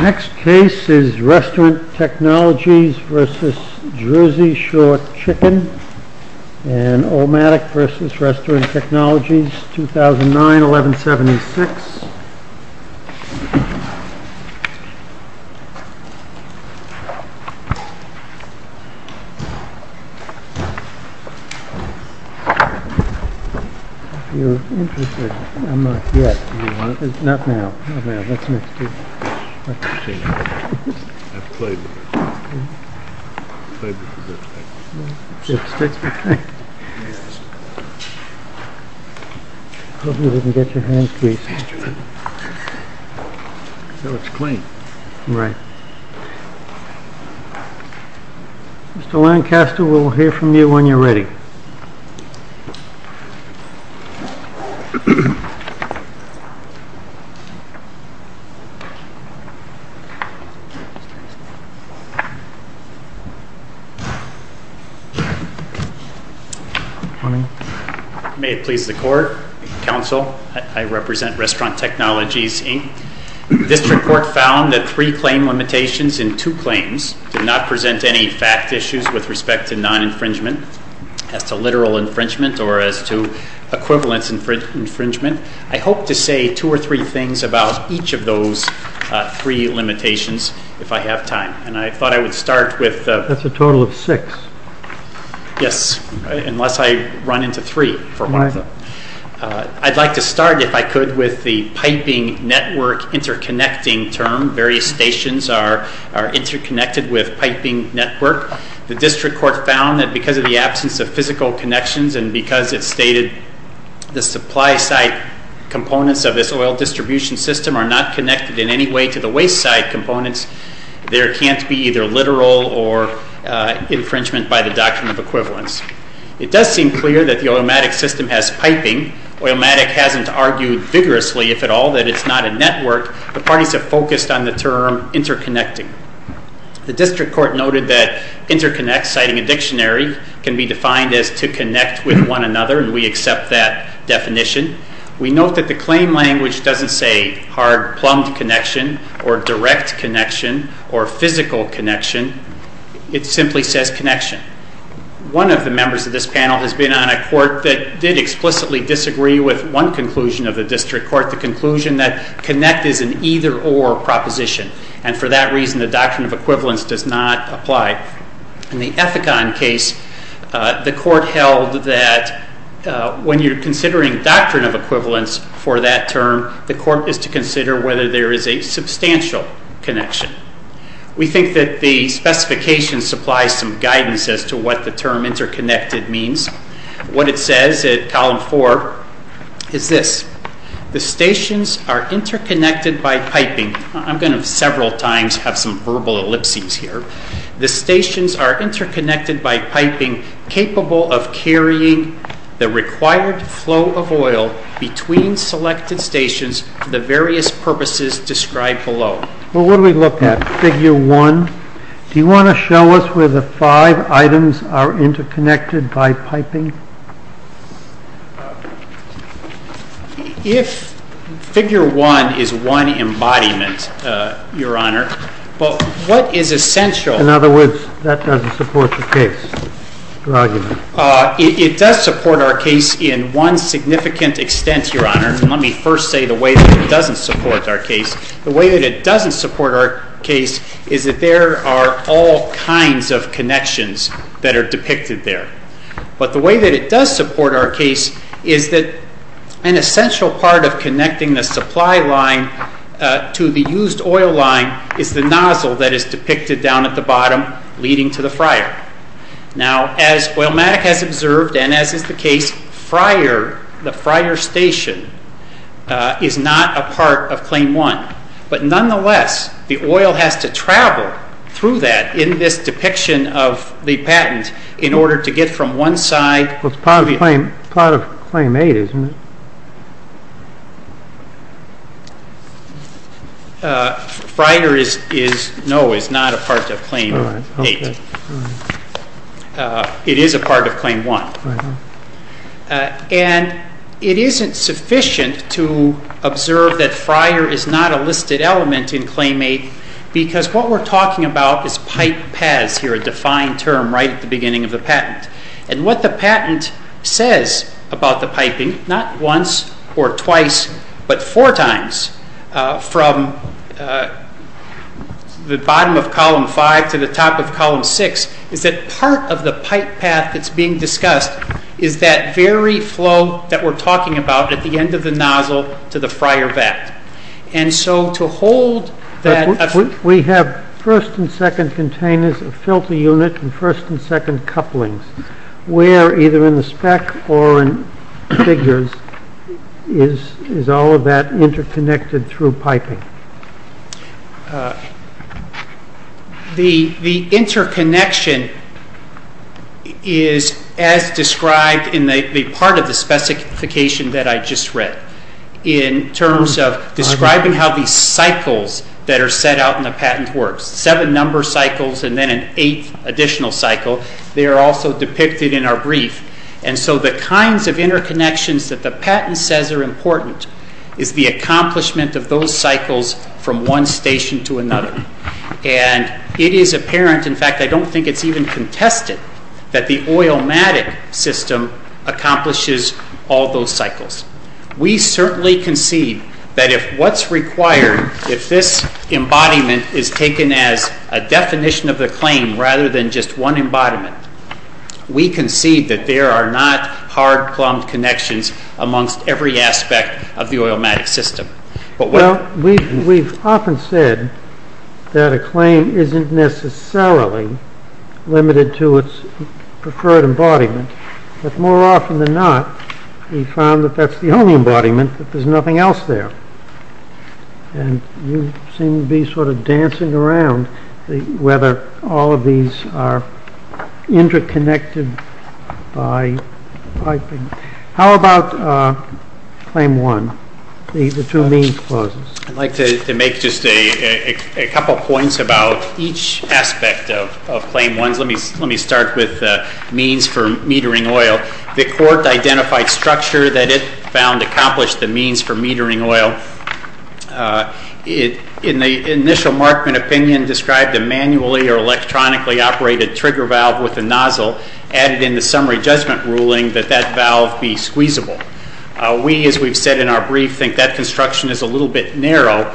Next case is Restaurant Technologies v. Jersey Shore Chicken and Olmatic v. Restaurant Technologies 2009-11-76 Mr. Lancaster, we will hear from you when you are ready. May it please the Court, Counsel, I represent Restaurant Technologies, Inc. This report found that three claim limitations in two claims did not present any fact issues with respect to non-infringement, as to literal infringement or as to equivalence infringement. I hope to say two or three things about each of those three limitations if I have time. That's a total of six. Yes, unless I run into three. I'd like to start, if I could, with the piping network interconnecting term. Various stations are interconnected with piping network. The District Court found that because of the absence of physical connections and because it stated the supply site components of this oil distribution system are not connected in any way to the waste site components, there can't be either literal or infringement by the doctrine of equivalence. It does seem clear that the Olmatic system has piping. Olmatic hasn't argued vigorously, if at all, that it's not a network. The parties have focused on the term interconnecting. The District Court noted that interconnect, citing a dictionary, can be defined as to connect with one another, and we accept that definition. We note that the claim language doesn't say hard-plumbed connection or direct connection or physical connection. It simply says connection. One of the members of this panel has been on a court that did explicitly disagree with one conclusion of the District Court, the conclusion that connect is an either-or proposition, and for that reason the doctrine of equivalence does not apply. In the Ethicon case, the court held that when you're considering doctrine of equivalence for that term, the court is to consider whether there is a substantial connection. We think that the specification supplies some guidance as to what the term interconnected means. What it says at column four is this. The stations are interconnected by piping. I'm going to several times have some verbal ellipses here. The stations are interconnected by piping capable of carrying the required flow of oil between selected stations for the various purposes described below. Well, what do we look at? Figure one. Do you want to show us where the five items are interconnected by piping? If figure one is one embodiment, Your Honor, what is essential? In other words, that doesn't support the case or argument. It does support our case in one significant extent, Your Honor. Let me first say the way that it doesn't support our case. The way that it doesn't support our case is that there are all kinds of connections that are depicted there. But the way that it does support our case is that an essential part of connecting the supply line to the used oil line is the nozzle that is depicted down at the bottom leading to the fryer. Now, as Oilmatic has observed and as is the case, the fryer station is not a part of claim one. But nonetheless, the oil has to travel through that in this depiction of the patent in order to get from one side to the other. It's part of claim eight, isn't it? No, it's not a part of claim eight. It is a part of claim one. And it isn't sufficient to observe that fryer is not a listed element in claim eight because what we're talking about is pipe paths here, a defined term right at the beginning of the patent. And what the patent says about the piping, not once or twice, but four times from the bottom of column five to the top of column six, is that part of the pipe path that's being discussed is that very flow that we're talking about at the end of the nozzle to the fryer vat. We have first and second containers of filter unit and first and second couplings. Where, either in the spec or in figures, is all of that interconnected through piping? The interconnection is as described in the part of the specification that I just read in terms of describing how these cycles that are set out in the patent work. Seven number cycles and then an eighth additional cycle. They are also depicted in our brief. And so the kinds of interconnections that the patent says are important is the accomplishment of those cycles from one station to another. And it is apparent, in fact I don't think it's even contested, that the oilmatic system accomplishes all those cycles. We certainly concede that if what's required, if this embodiment is taken as a definition of the claim rather than just one embodiment, we concede that there are not hard-plumbed connections amongst every aspect of the oilmatic system. Well, we've often said that a claim isn't necessarily limited to its preferred embodiment. But more often than not, we've found that that's the only embodiment, that there's nothing else there. And you seem to be sort of dancing around whether all of these are interconnected by piping. How about Claim 1, the two means clauses? I'd like to make just a couple points about each aspect of Claim 1. Let me start with means for metering oil. The Court identified structure that it found accomplished the means for metering oil. In the initial Markman opinion described a manually or electronically operated trigger valve with a nozzle added in the summary judgment ruling that that valve be squeezable. We, as we've said in our brief, think that construction is a little bit narrow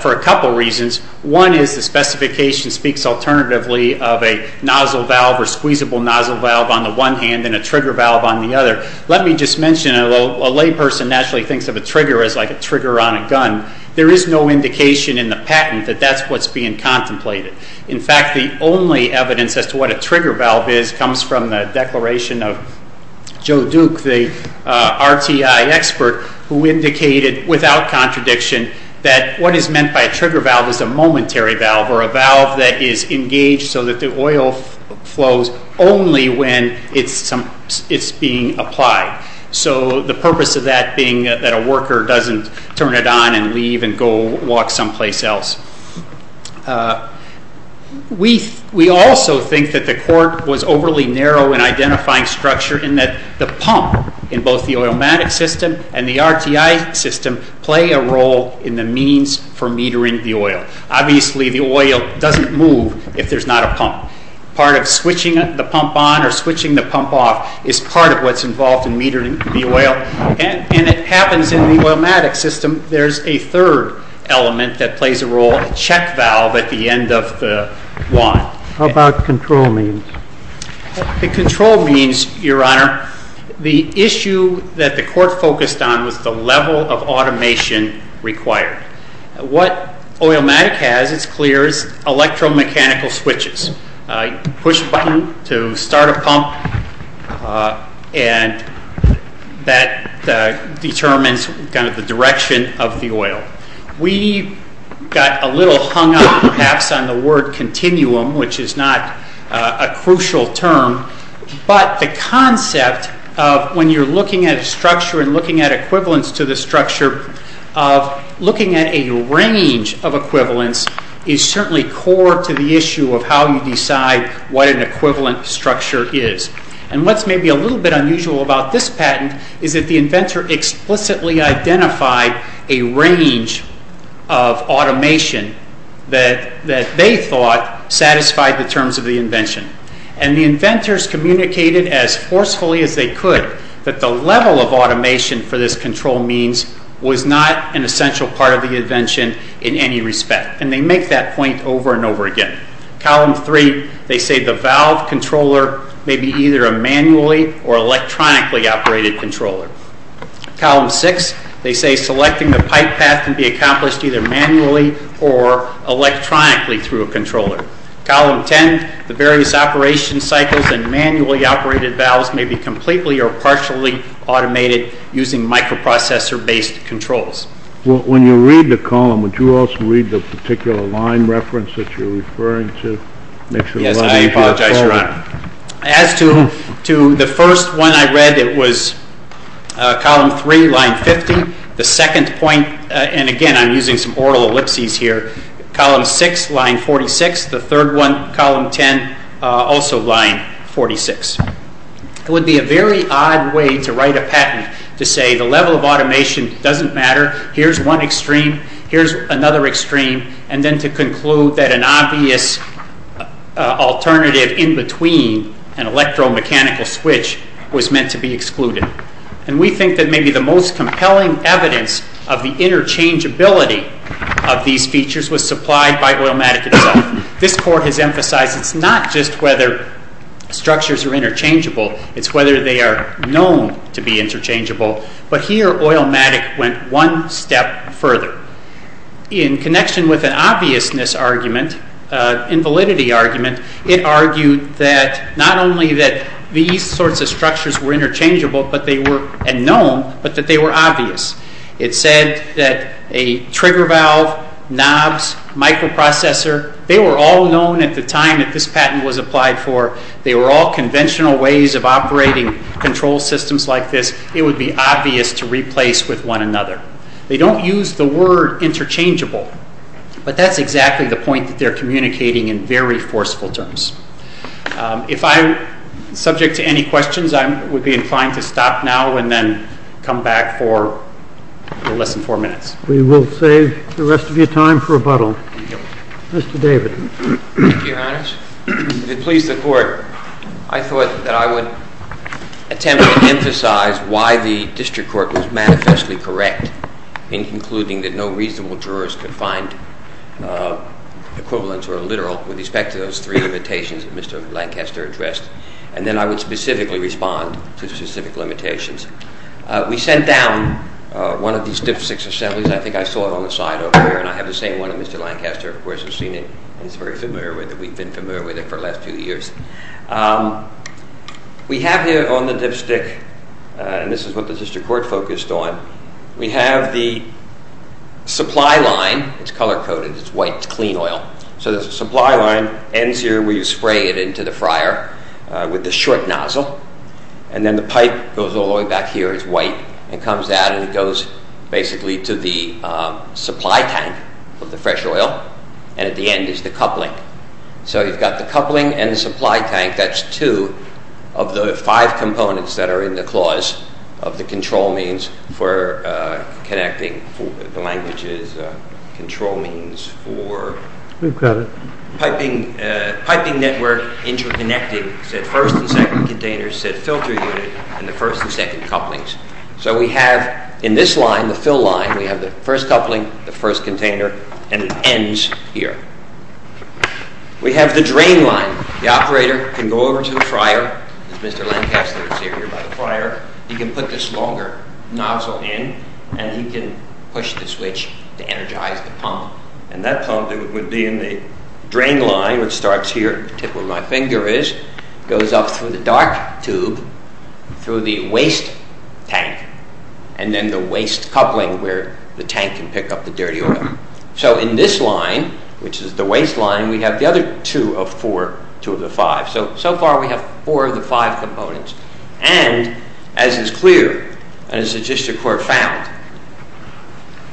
for a couple reasons. One is the specification speaks alternatively of a nozzle valve or squeezable nozzle valve on the one hand and a trigger valve on the other. Let me just mention, although a layperson naturally thinks of a trigger as like a trigger on a gun, there is no indication in the patent that that's what's being contemplated. In fact, the only evidence as to what a trigger valve is comes from the declaration of Joe Duke, the RTI expert who indicated without contradiction that what is meant by a trigger valve is a momentary valve or a valve that is engaged so that the oil flows only when it's being applied. So the purpose of that being that a worker doesn't turn it on and leave and go walk someplace else. We also think that the Court was overly narrow in identifying structure in that the pump in both the oilmatic system and the RTI system play a role in the means for metering the oil. Obviously, the oil doesn't move if there's not a pump. Part of switching the pump on or switching the pump off is part of what's involved in metering the oil, and it happens in the oilmatic system. There's a third element that plays a role, a check valve at the end of the wand. How about control means? The control means, Your Honor, the issue that the Court focused on was the level of automation required. What oilmatic has, it's clear, is electromechanical switches. Push a button to start a pump, and that determines kind of the direction of the oil. We got a little hung up, perhaps, on the word continuum, which is not a crucial term, but the concept of when you're looking at a structure and looking at equivalence to the structure of looking at a range of equivalence is certainly core to the issue of how you decide what an equivalent structure is. What's maybe a little bit unusual about this patent is that the inventor explicitly identified a range of automation that they thought satisfied the terms of the invention. The inventors communicated as forcefully as they could that the level of automation for this control means was not an essential part of the invention in any respect, and they make that point over and over again. Column 3, they say the valve controller may be either a manually or electronically operated controller. Column 6, they say selecting the pipe path can be accomplished either manually or electronically through a controller. Column 10, the various operation cycles and manually operated valves may be completely or partially automated using microprocessor-based controls. When you read the column, would you also read the particular line reference that you're referring to? Yes, I apologize, Your Honor. As to the first one I read, it was column 3, line 50. The second point, and again, I'm using some oral ellipses here. Column 6, line 46. The third one, column 10, also line 46. It would be a very odd way to write a patent to say the level of automation doesn't matter. Here's one extreme. Here's another extreme. And then to conclude that an obvious alternative in between an electromechanical switch was meant to be excluded. And we think that maybe the most compelling evidence of the interchangeability of these features was supplied by Oilmatic itself. This Court has emphasized it's not just whether structures are interchangeable. It's whether they are known to be interchangeable. But here, Oilmatic went one step further. In connection with an obviousness argument, an invalidity argument, it argued that not only that these sorts of structures were interchangeable and known, but that they were obvious. It said that a trigger valve, knobs, microprocessor, they were all known at the time that this patent was applied for. They were all conventional ways of operating control systems like this. It would be obvious to replace with one another. They don't use the word interchangeable. But that's exactly the point that they're communicating in very forceful terms. If I'm subject to any questions, I would be inclined to stop now and then come back for less than four minutes. We will save the rest of your time for rebuttal. Thank you. Mr. David. Thank you, Your Honors. To please the Court, I thought that I would attempt to emphasize why the district court was manifestly correct in concluding that no reasonable jurors could find equivalence or a literal with respect to those three limitations that Mr. Lancaster addressed. And then I would specifically respond to specific limitations. We sent down one of these dipstick assemblies. I think I saw it on the side over there, and I have the same one that Mr. Lancaster, of course, has seen it. He's very familiar with it. We've been familiar with it for the last few years. We have here on the dipstick, and this is what the district court focused on, we have the supply line. It's color-coded. It's white. It's clean oil. So the supply line ends here where you spray it into the fryer with the short nozzle, and then the pipe goes all the way back here. It's white. It comes out, and it goes basically to the supply tank of the fresh oil, and at the end is the coupling. So you've got the coupling and the supply tank. That's two of the five components that are in the clause of the control means for connecting the languages, control means for piping network interconnecting, said first and second containers, said filter unit, and the first and second couplings. So we have in this line, the fill line, we have the first coupling, the first container, and it ends here. We have the drain line. The operator can go over to the fryer, as Mr. Lancaster is here by the fryer. He can put this longer nozzle in, and he can push the switch to energize the pump, and that pump would be in the drain line, which starts here at the tip where my finger is, goes up through the dark tube, through the waste tank, and then the waste coupling where the tank can pick up the dirty oil. So in this line, which is the waste line, we have the other two of four, two of the five. So far we have four of the five components, and as is clear, and as the district court found,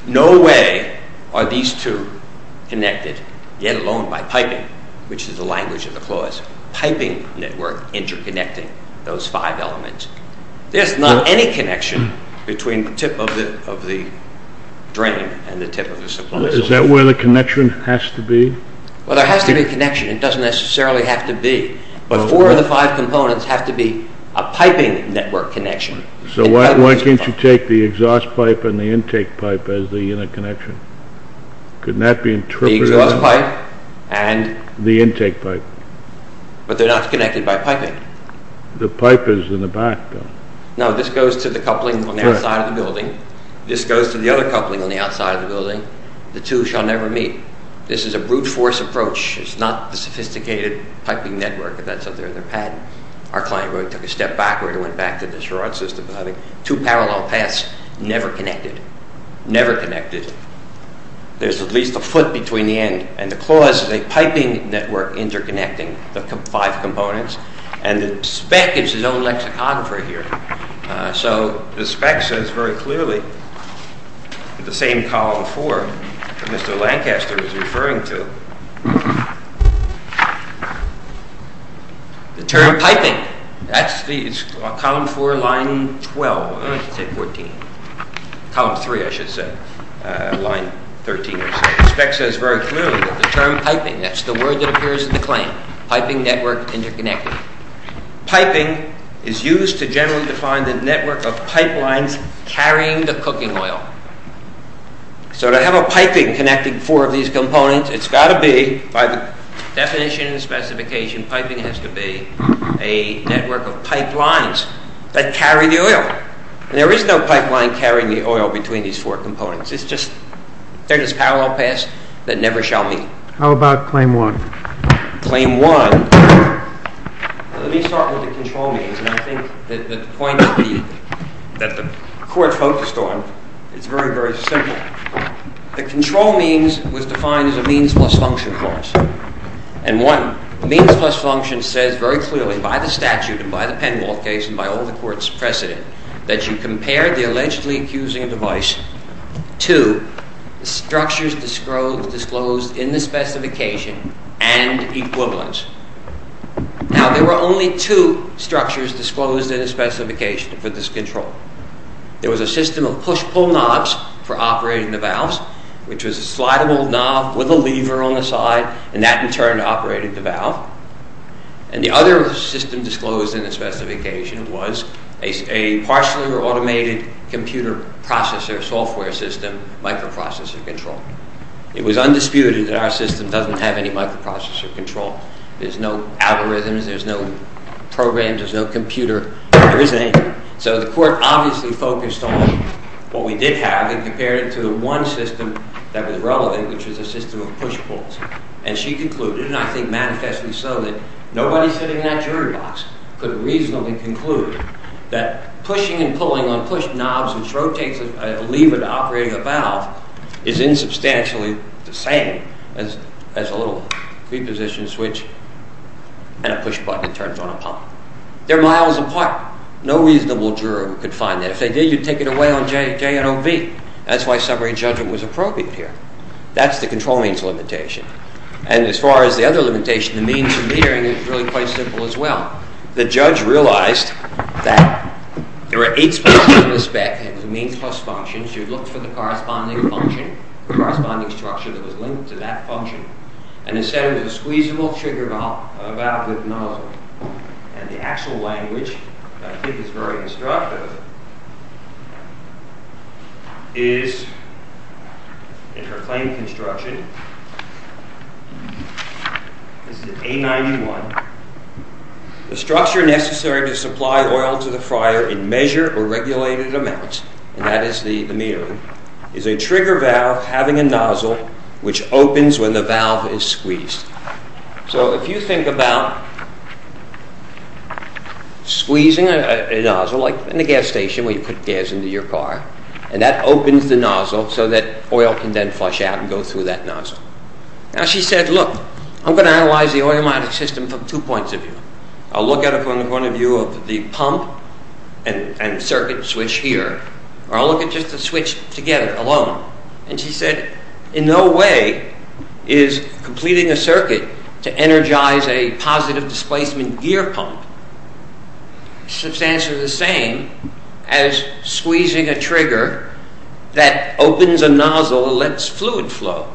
no way are these two connected, yet alone by piping, which is the language of the clause, piping network interconnecting those five elements. There's not any connection between the tip of the drain and the tip of the supply. Is that where the connection has to be? Well, there has to be a connection. It doesn't necessarily have to be. But four of the five components have to be a piping network connection. So why can't you take the exhaust pipe and the intake pipe as the interconnection? The exhaust pipe and the intake pipe. But they're not connected by piping. The pipe is in the back, though. No, this goes to the coupling on the outside of the building. This goes to the other coupling on the outside of the building. The two shall never meet. This is a brute force approach. It's not the sophisticated piping network that's up there in their patent. Our client really took a step back where he went back to the Charade system and having two parallel paths never connected. Never connected. There's at least a foot between the end and the clause, a piping network interconnecting the five components. And the spec is his own lexicographer here. So the spec says very clearly, the same column four that Mr. Lancaster was referring to, the term piping. That's column four, line 12. I should say 14. Column three, I should say. Line 13 or so. The spec says very clearly that the term piping, that's the word that appears in the claim, piping network interconnecting. Piping is used to generally define the network of pipelines carrying the cooking oil. So to have a piping connecting four of these components, it's got to be, by the definition and specification, piping has to be a network of pipelines that carry the oil. And there is no pipeline carrying the oil between these four components. It's just there's this parallel path that never shall meet. How about claim one? Claim one, let me start with the control means. And I think that the point that the Court focused on is very, very simple. The control means was defined as a means plus function clause. And one means plus function says very clearly by the statute and by the Penwald case and by all the Court's precedent that you compare the allegedly accusing device to the structures disclosed in the specification and equivalent. Now, there were only two structures disclosed in the specification for this control. There was a system of push-pull knobs for operating the valves, which was a slideable knob with a lever on the side, and that in turn operated the valve. And the other system disclosed in the specification was a partially automated computer processor software system, microprocessor control. It was undisputed that our system doesn't have any microprocessor control. There's no algorithms, there's no programs, there's no computer. There isn't any. So the Court obviously focused on what we did have and compared it to the one system that was relevant, which was a system of push-pulls. And she concluded, and I think manifestly so, that nobody sitting in that jury box could reasonably conclude that pushing and pulling on push knobs, which rotates a lever to operate a valve, is insubstantially the same as a little preposition switch and a push button turns on a pump. They're miles apart. No reasonable juror could find that. If they did, you'd take it away on J and OV. That's why summary judgment was appropriate here. That's the control means limitation. And as far as the other limitation, the means of metering, it's really quite simple as well. The judge realized that there were eight specs in the spec and the means plus functions. You'd look for the corresponding function, the corresponding structure that was linked to that function. And instead of the squeezable trigger valve with nozzle. And the actual language, I think it's very instructive, is in her claim construction. This is in A91. The structure necessary to supply oil to the fryer in measured or regulated amounts, and that is the metering, is a trigger valve having a nozzle which opens when the valve is squeezed. So if you think about squeezing a nozzle, like in a gas station where you put gas into your car, and that opens the nozzle so that oil can then flush out and go through that nozzle. Now she said, look, I'm going to analyze the oil monitoring system from two points of view. I'll look at it from the point of view of the pump and the circuit switch here, or I'll look at just the switch together, alone. And she said, in no way is completing a circuit to energize a positive displacement gear pump substantially the same as squeezing a trigger that opens a nozzle and lets fluid flow.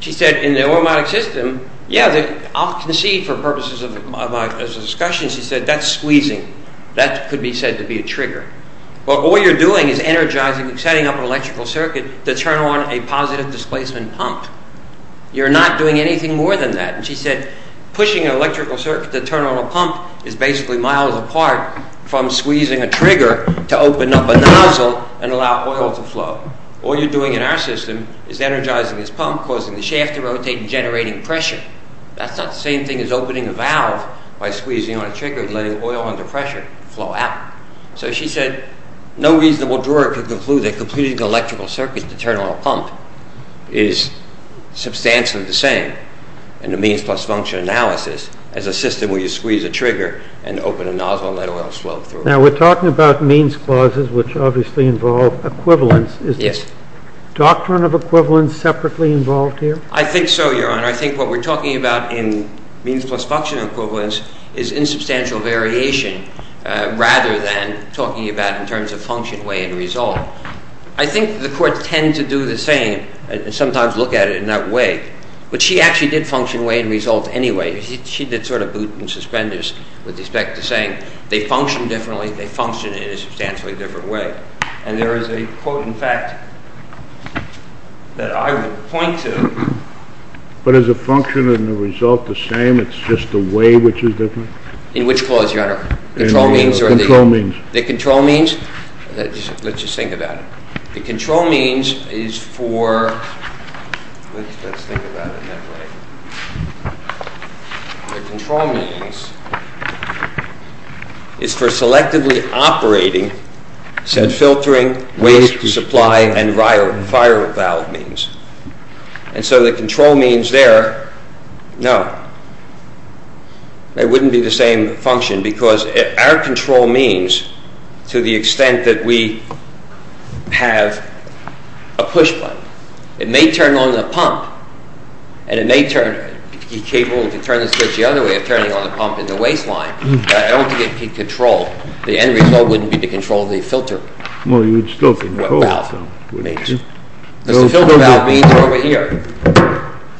She said, in the oil monitoring system, yeah, I'll concede for purposes of discussion, she said, that's squeezing. That could be said to be a trigger. But all you're doing is energizing, setting up an electrical circuit to turn on a positive displacement pump. You're not doing anything more than that. She said, pushing an electrical circuit to turn on a pump is basically miles apart from squeezing a trigger to open up a nozzle and allow oil to flow. All you're doing in our system is energizing this pump, causing the shaft to rotate and generating pressure. That's not the same thing as opening a valve by squeezing on a trigger and letting oil under pressure flow out. So she said, no reasonable drawer could conclude that completing an electrical circuit to turn on a pump is substantially the same in the means plus function analysis as a system where you squeeze a trigger and open a nozzle and let oil flow through. Now, we're talking about means clauses which obviously involve equivalence. Is the doctrine of equivalence separately involved here? I think so, Your Honor. I think what we're talking about in means plus function equivalence is insubstantial variation rather than talking about in terms of function, way, and result. I think the courts tend to do the same and sometimes look at it in that way. But she actually did function, way, and result anyway. She did sort of boot and suspend this with respect to saying they function differently. They function in a substantially different way. And there is a quote, in fact, that I would point to. But is the function and the result the same? It's just the way which is different? In which clause, Your Honor? Control means or the... Control means. The control means? Let's just think about it. The control means is for... Let's think about it that way. The control means is for selectively operating said filtering, waste, supply, and viral valve means. And so the control means there, no. It wouldn't be the same function because our control means to the extent that we have a push button. It may turn on the pump and it may turn... It's capable to turn the switch the other way of turning on the pump in the waste line. I don't think it can control... The end result wouldn't be to control the filter. No, you would still control the filter. Because the filter valve means over here.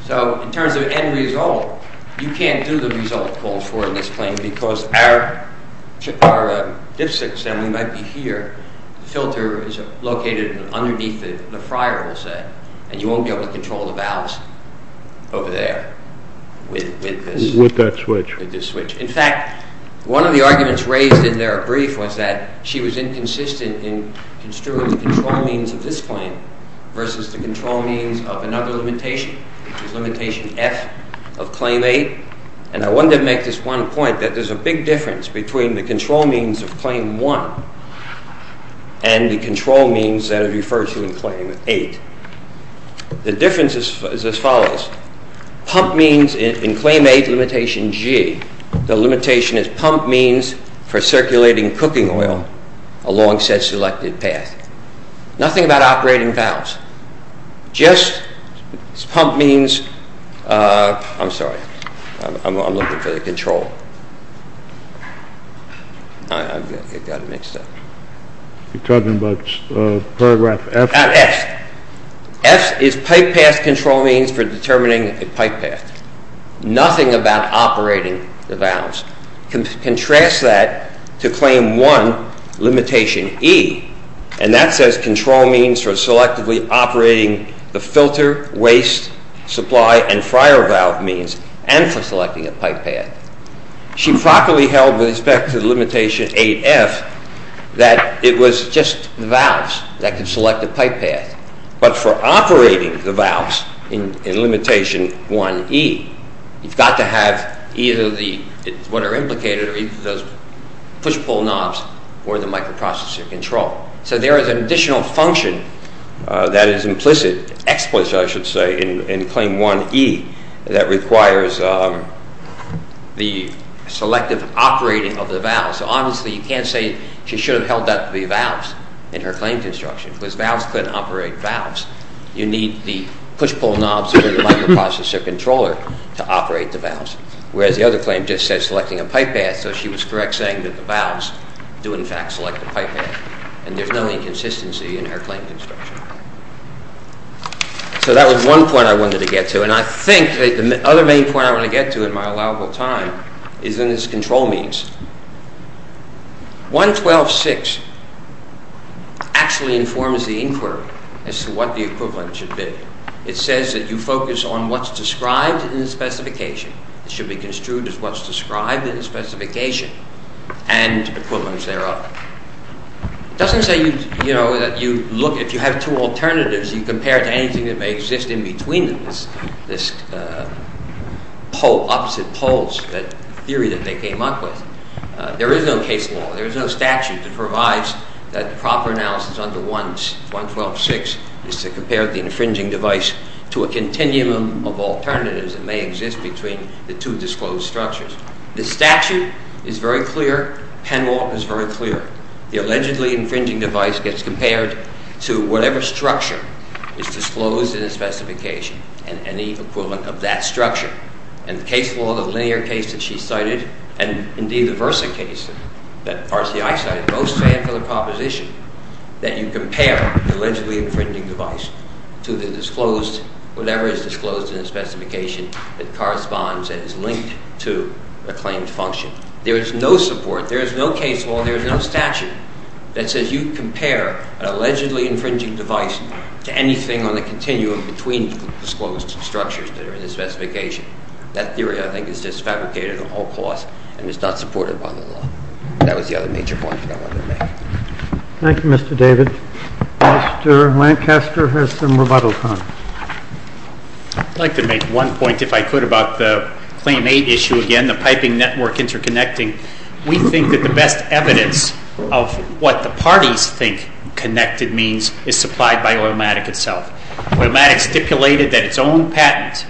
So in terms of end result, you can't do the result called for in this claim because our dipstick assembly might be here. The filter is located underneath the fryer, we'll say. And you won't be able to control the valves over there with this switch. In fact, one of the arguments raised in their brief was that she was inconsistent in construing the control means of this claim versus the control means of another limitation, limitation F of claim 8. And I wanted to make this one point that there's a big difference between the control means of claim 1 and the control means that are referred to in claim 8. The difference is as follows. Pump means in claim 8, limitation G. The limitation is pump means for circulating cooking oil along said selected path. Nothing about operating valves. Just pump means... I'm sorry. I'm looking for the control. I got it mixed up. You're talking about paragraph F? F. F is pipe path control means for determining a pipe path. Nothing about operating the valves. Contrast that to claim 1, limitation E. And that says control means for selectively operating the filter, waste, supply and fryer valve means and for selecting a pipe path. She properly held with respect to the limitation 8F that it was just valves that can select a pipe path but for operating the valves in limitation 1E, you've got to have either what are implicated or either those push-pull knobs or the microprocessor control. So there is an additional function that is implicit, explicit I should say, in claim 1E that requires the selective operating of the valves. So obviously you can't say she should have held up the valves in her claim construction because valves couldn't operate valves. You need the push-pull knobs or the microprocessor controller to operate the valves. Whereas the other claim just says selecting a pipe path so she was correct saying that the valves do in fact select the pipe path and there's no inconsistency in her claim construction. So that was one point I wanted to get to and I think the other main point I want to get to in my allowable time is in its control means. 112.6 actually informs the inquiry as to what the equivalent should be. It says that you focus on what's described in the specification. It should be construed as what's described in the specification and equivalents thereof. It doesn't say, you know, that you look, if you have two alternatives, you compare it to anything that may exist in between them, this opposite poles, that theory that they came up with. There is no case law, there is no statute that provides that the proper analysis under 112.6 is to compare the infringing device to a continuum of alternatives that may exist between the two disclosed structures. The statute is very clear. PenWalk is very clear. The allegedly infringing device gets compared to whatever structure is disclosed in the specification and the equivalent of that structure. And the case law, the linear case that she cited and indeed the Versa case that RCI cited, both stand for the proposition that you compare the allegedly infringing device to the disclosed, whatever is disclosed in the specification that corresponds and is linked to the claimed function. There is no support, there is no case law, there is no statute that says you compare an allegedly infringing device to anything on the continuum between the disclosed structures that are in the specification. That theory, I think, is just fabricated at all costs and is not supported by the law. That was the other major point that I wanted to make. Thank you, Mr. David. Mr. Lancaster has some rebuttals. I'd like to make one point, if I could, about the Claim 8 issue again, the piping network interconnecting. We think that the best evidence of what the parties think connected means is supplied by Oilmatic itself. Oilmatic stipulated that its own patent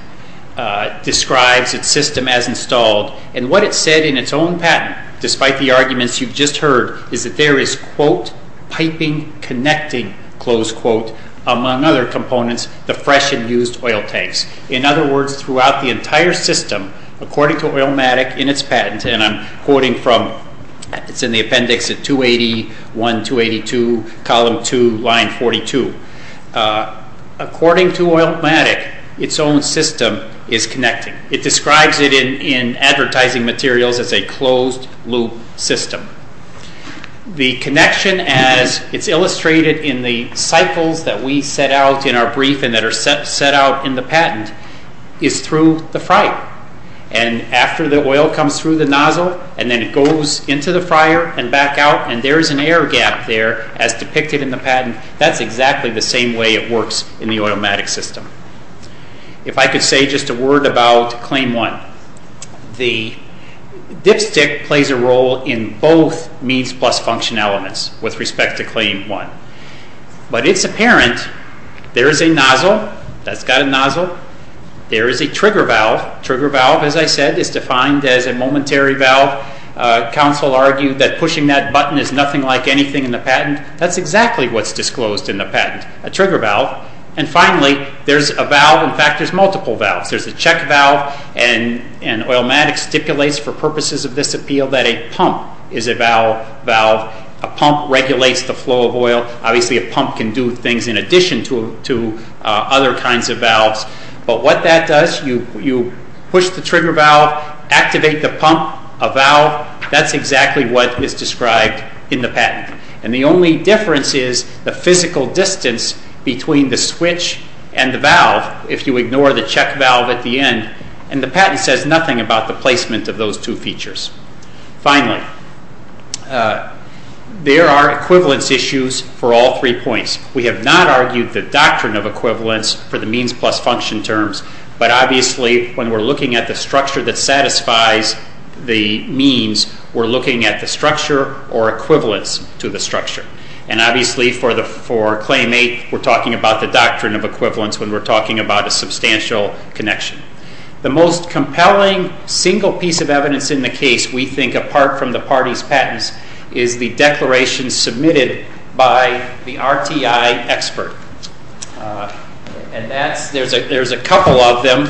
describes its system as installed, and what it said in its own patent, despite the arguments you've just heard, is that there is, quote, piping connecting, close quote, among other components, the fresh and used oil tanks. In other words, throughout the entire system, according to Oilmatic in its patent, and I'm quoting from, it's in the appendix at 281, 282, column 2, line 42. According to Oilmatic, its own system is connecting. It describes it in advertising materials as a closed-loop system. The connection, as it's illustrated in the cycles that we set out in our brief and that are set out in the patent, is through the fryer. And after the oil comes through the nozzle, and then it goes into the fryer and back out, and there is an air gap there, as depicted in the patent, that's exactly the same way it works in the Oilmatic system. If I could say just a word about Claim 1. The dipstick plays a role in both means plus function elements with respect to Claim 1. But it's apparent there is a nozzle that's got a nozzle. There is a trigger valve. Trigger valve, as I said, is defined as a momentary valve. Council argued that pushing that button is nothing like anything in the patent. That's exactly what's disclosed in the patent, a trigger valve. And finally, there's a valve, in fact, there's multiple valves. There's a check valve, and Oilmatic stipulates for purposes of this appeal that a pump is a valve. A pump regulates the flow of oil. Obviously, a pump can do things in addition to other kinds of valves. But what that does, you push the trigger valve, activate the pump, a valve. That's exactly what is described in the patent. And the only difference is the physical distance between the switch and the valve, if you ignore the check valve at the end. And the patent says nothing about the placement of those two features. Finally, there are equivalence issues for all three points. We have not argued the doctrine of equivalence for the means plus function terms. But obviously, when we're looking at the structure that satisfies the means, we're looking at the structure or equivalence to the structure. And obviously, for Claim 8, we're talking about the doctrine of equivalence when we're talking about a substantial connection. The most compelling single piece of evidence in the case, we think, apart from the parties' patents, is the declaration submitted by the RTI expert. And there's a couple of them,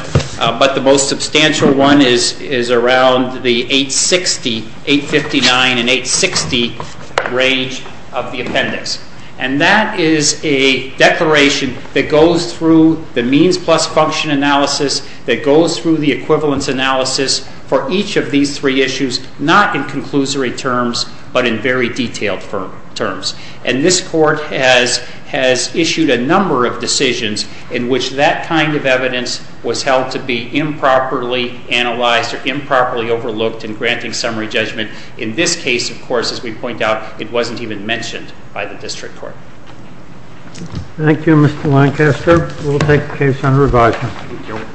but the most substantial one is around the 859 and 860 range of the appendix. And that is a declaration that goes through the means plus function analysis, that goes through the equivalence analysis for each of these three issues, not in conclusory terms, but in very detailed terms. And this court has issued a number of decisions in which that kind of evidence was held to be improperly analyzed or improperly overlooked in granting summary judgment. In this case, of course, as we point out, it wasn't even mentioned by the district court. Thank you, Mr. Lancaster. We'll take the case under revision.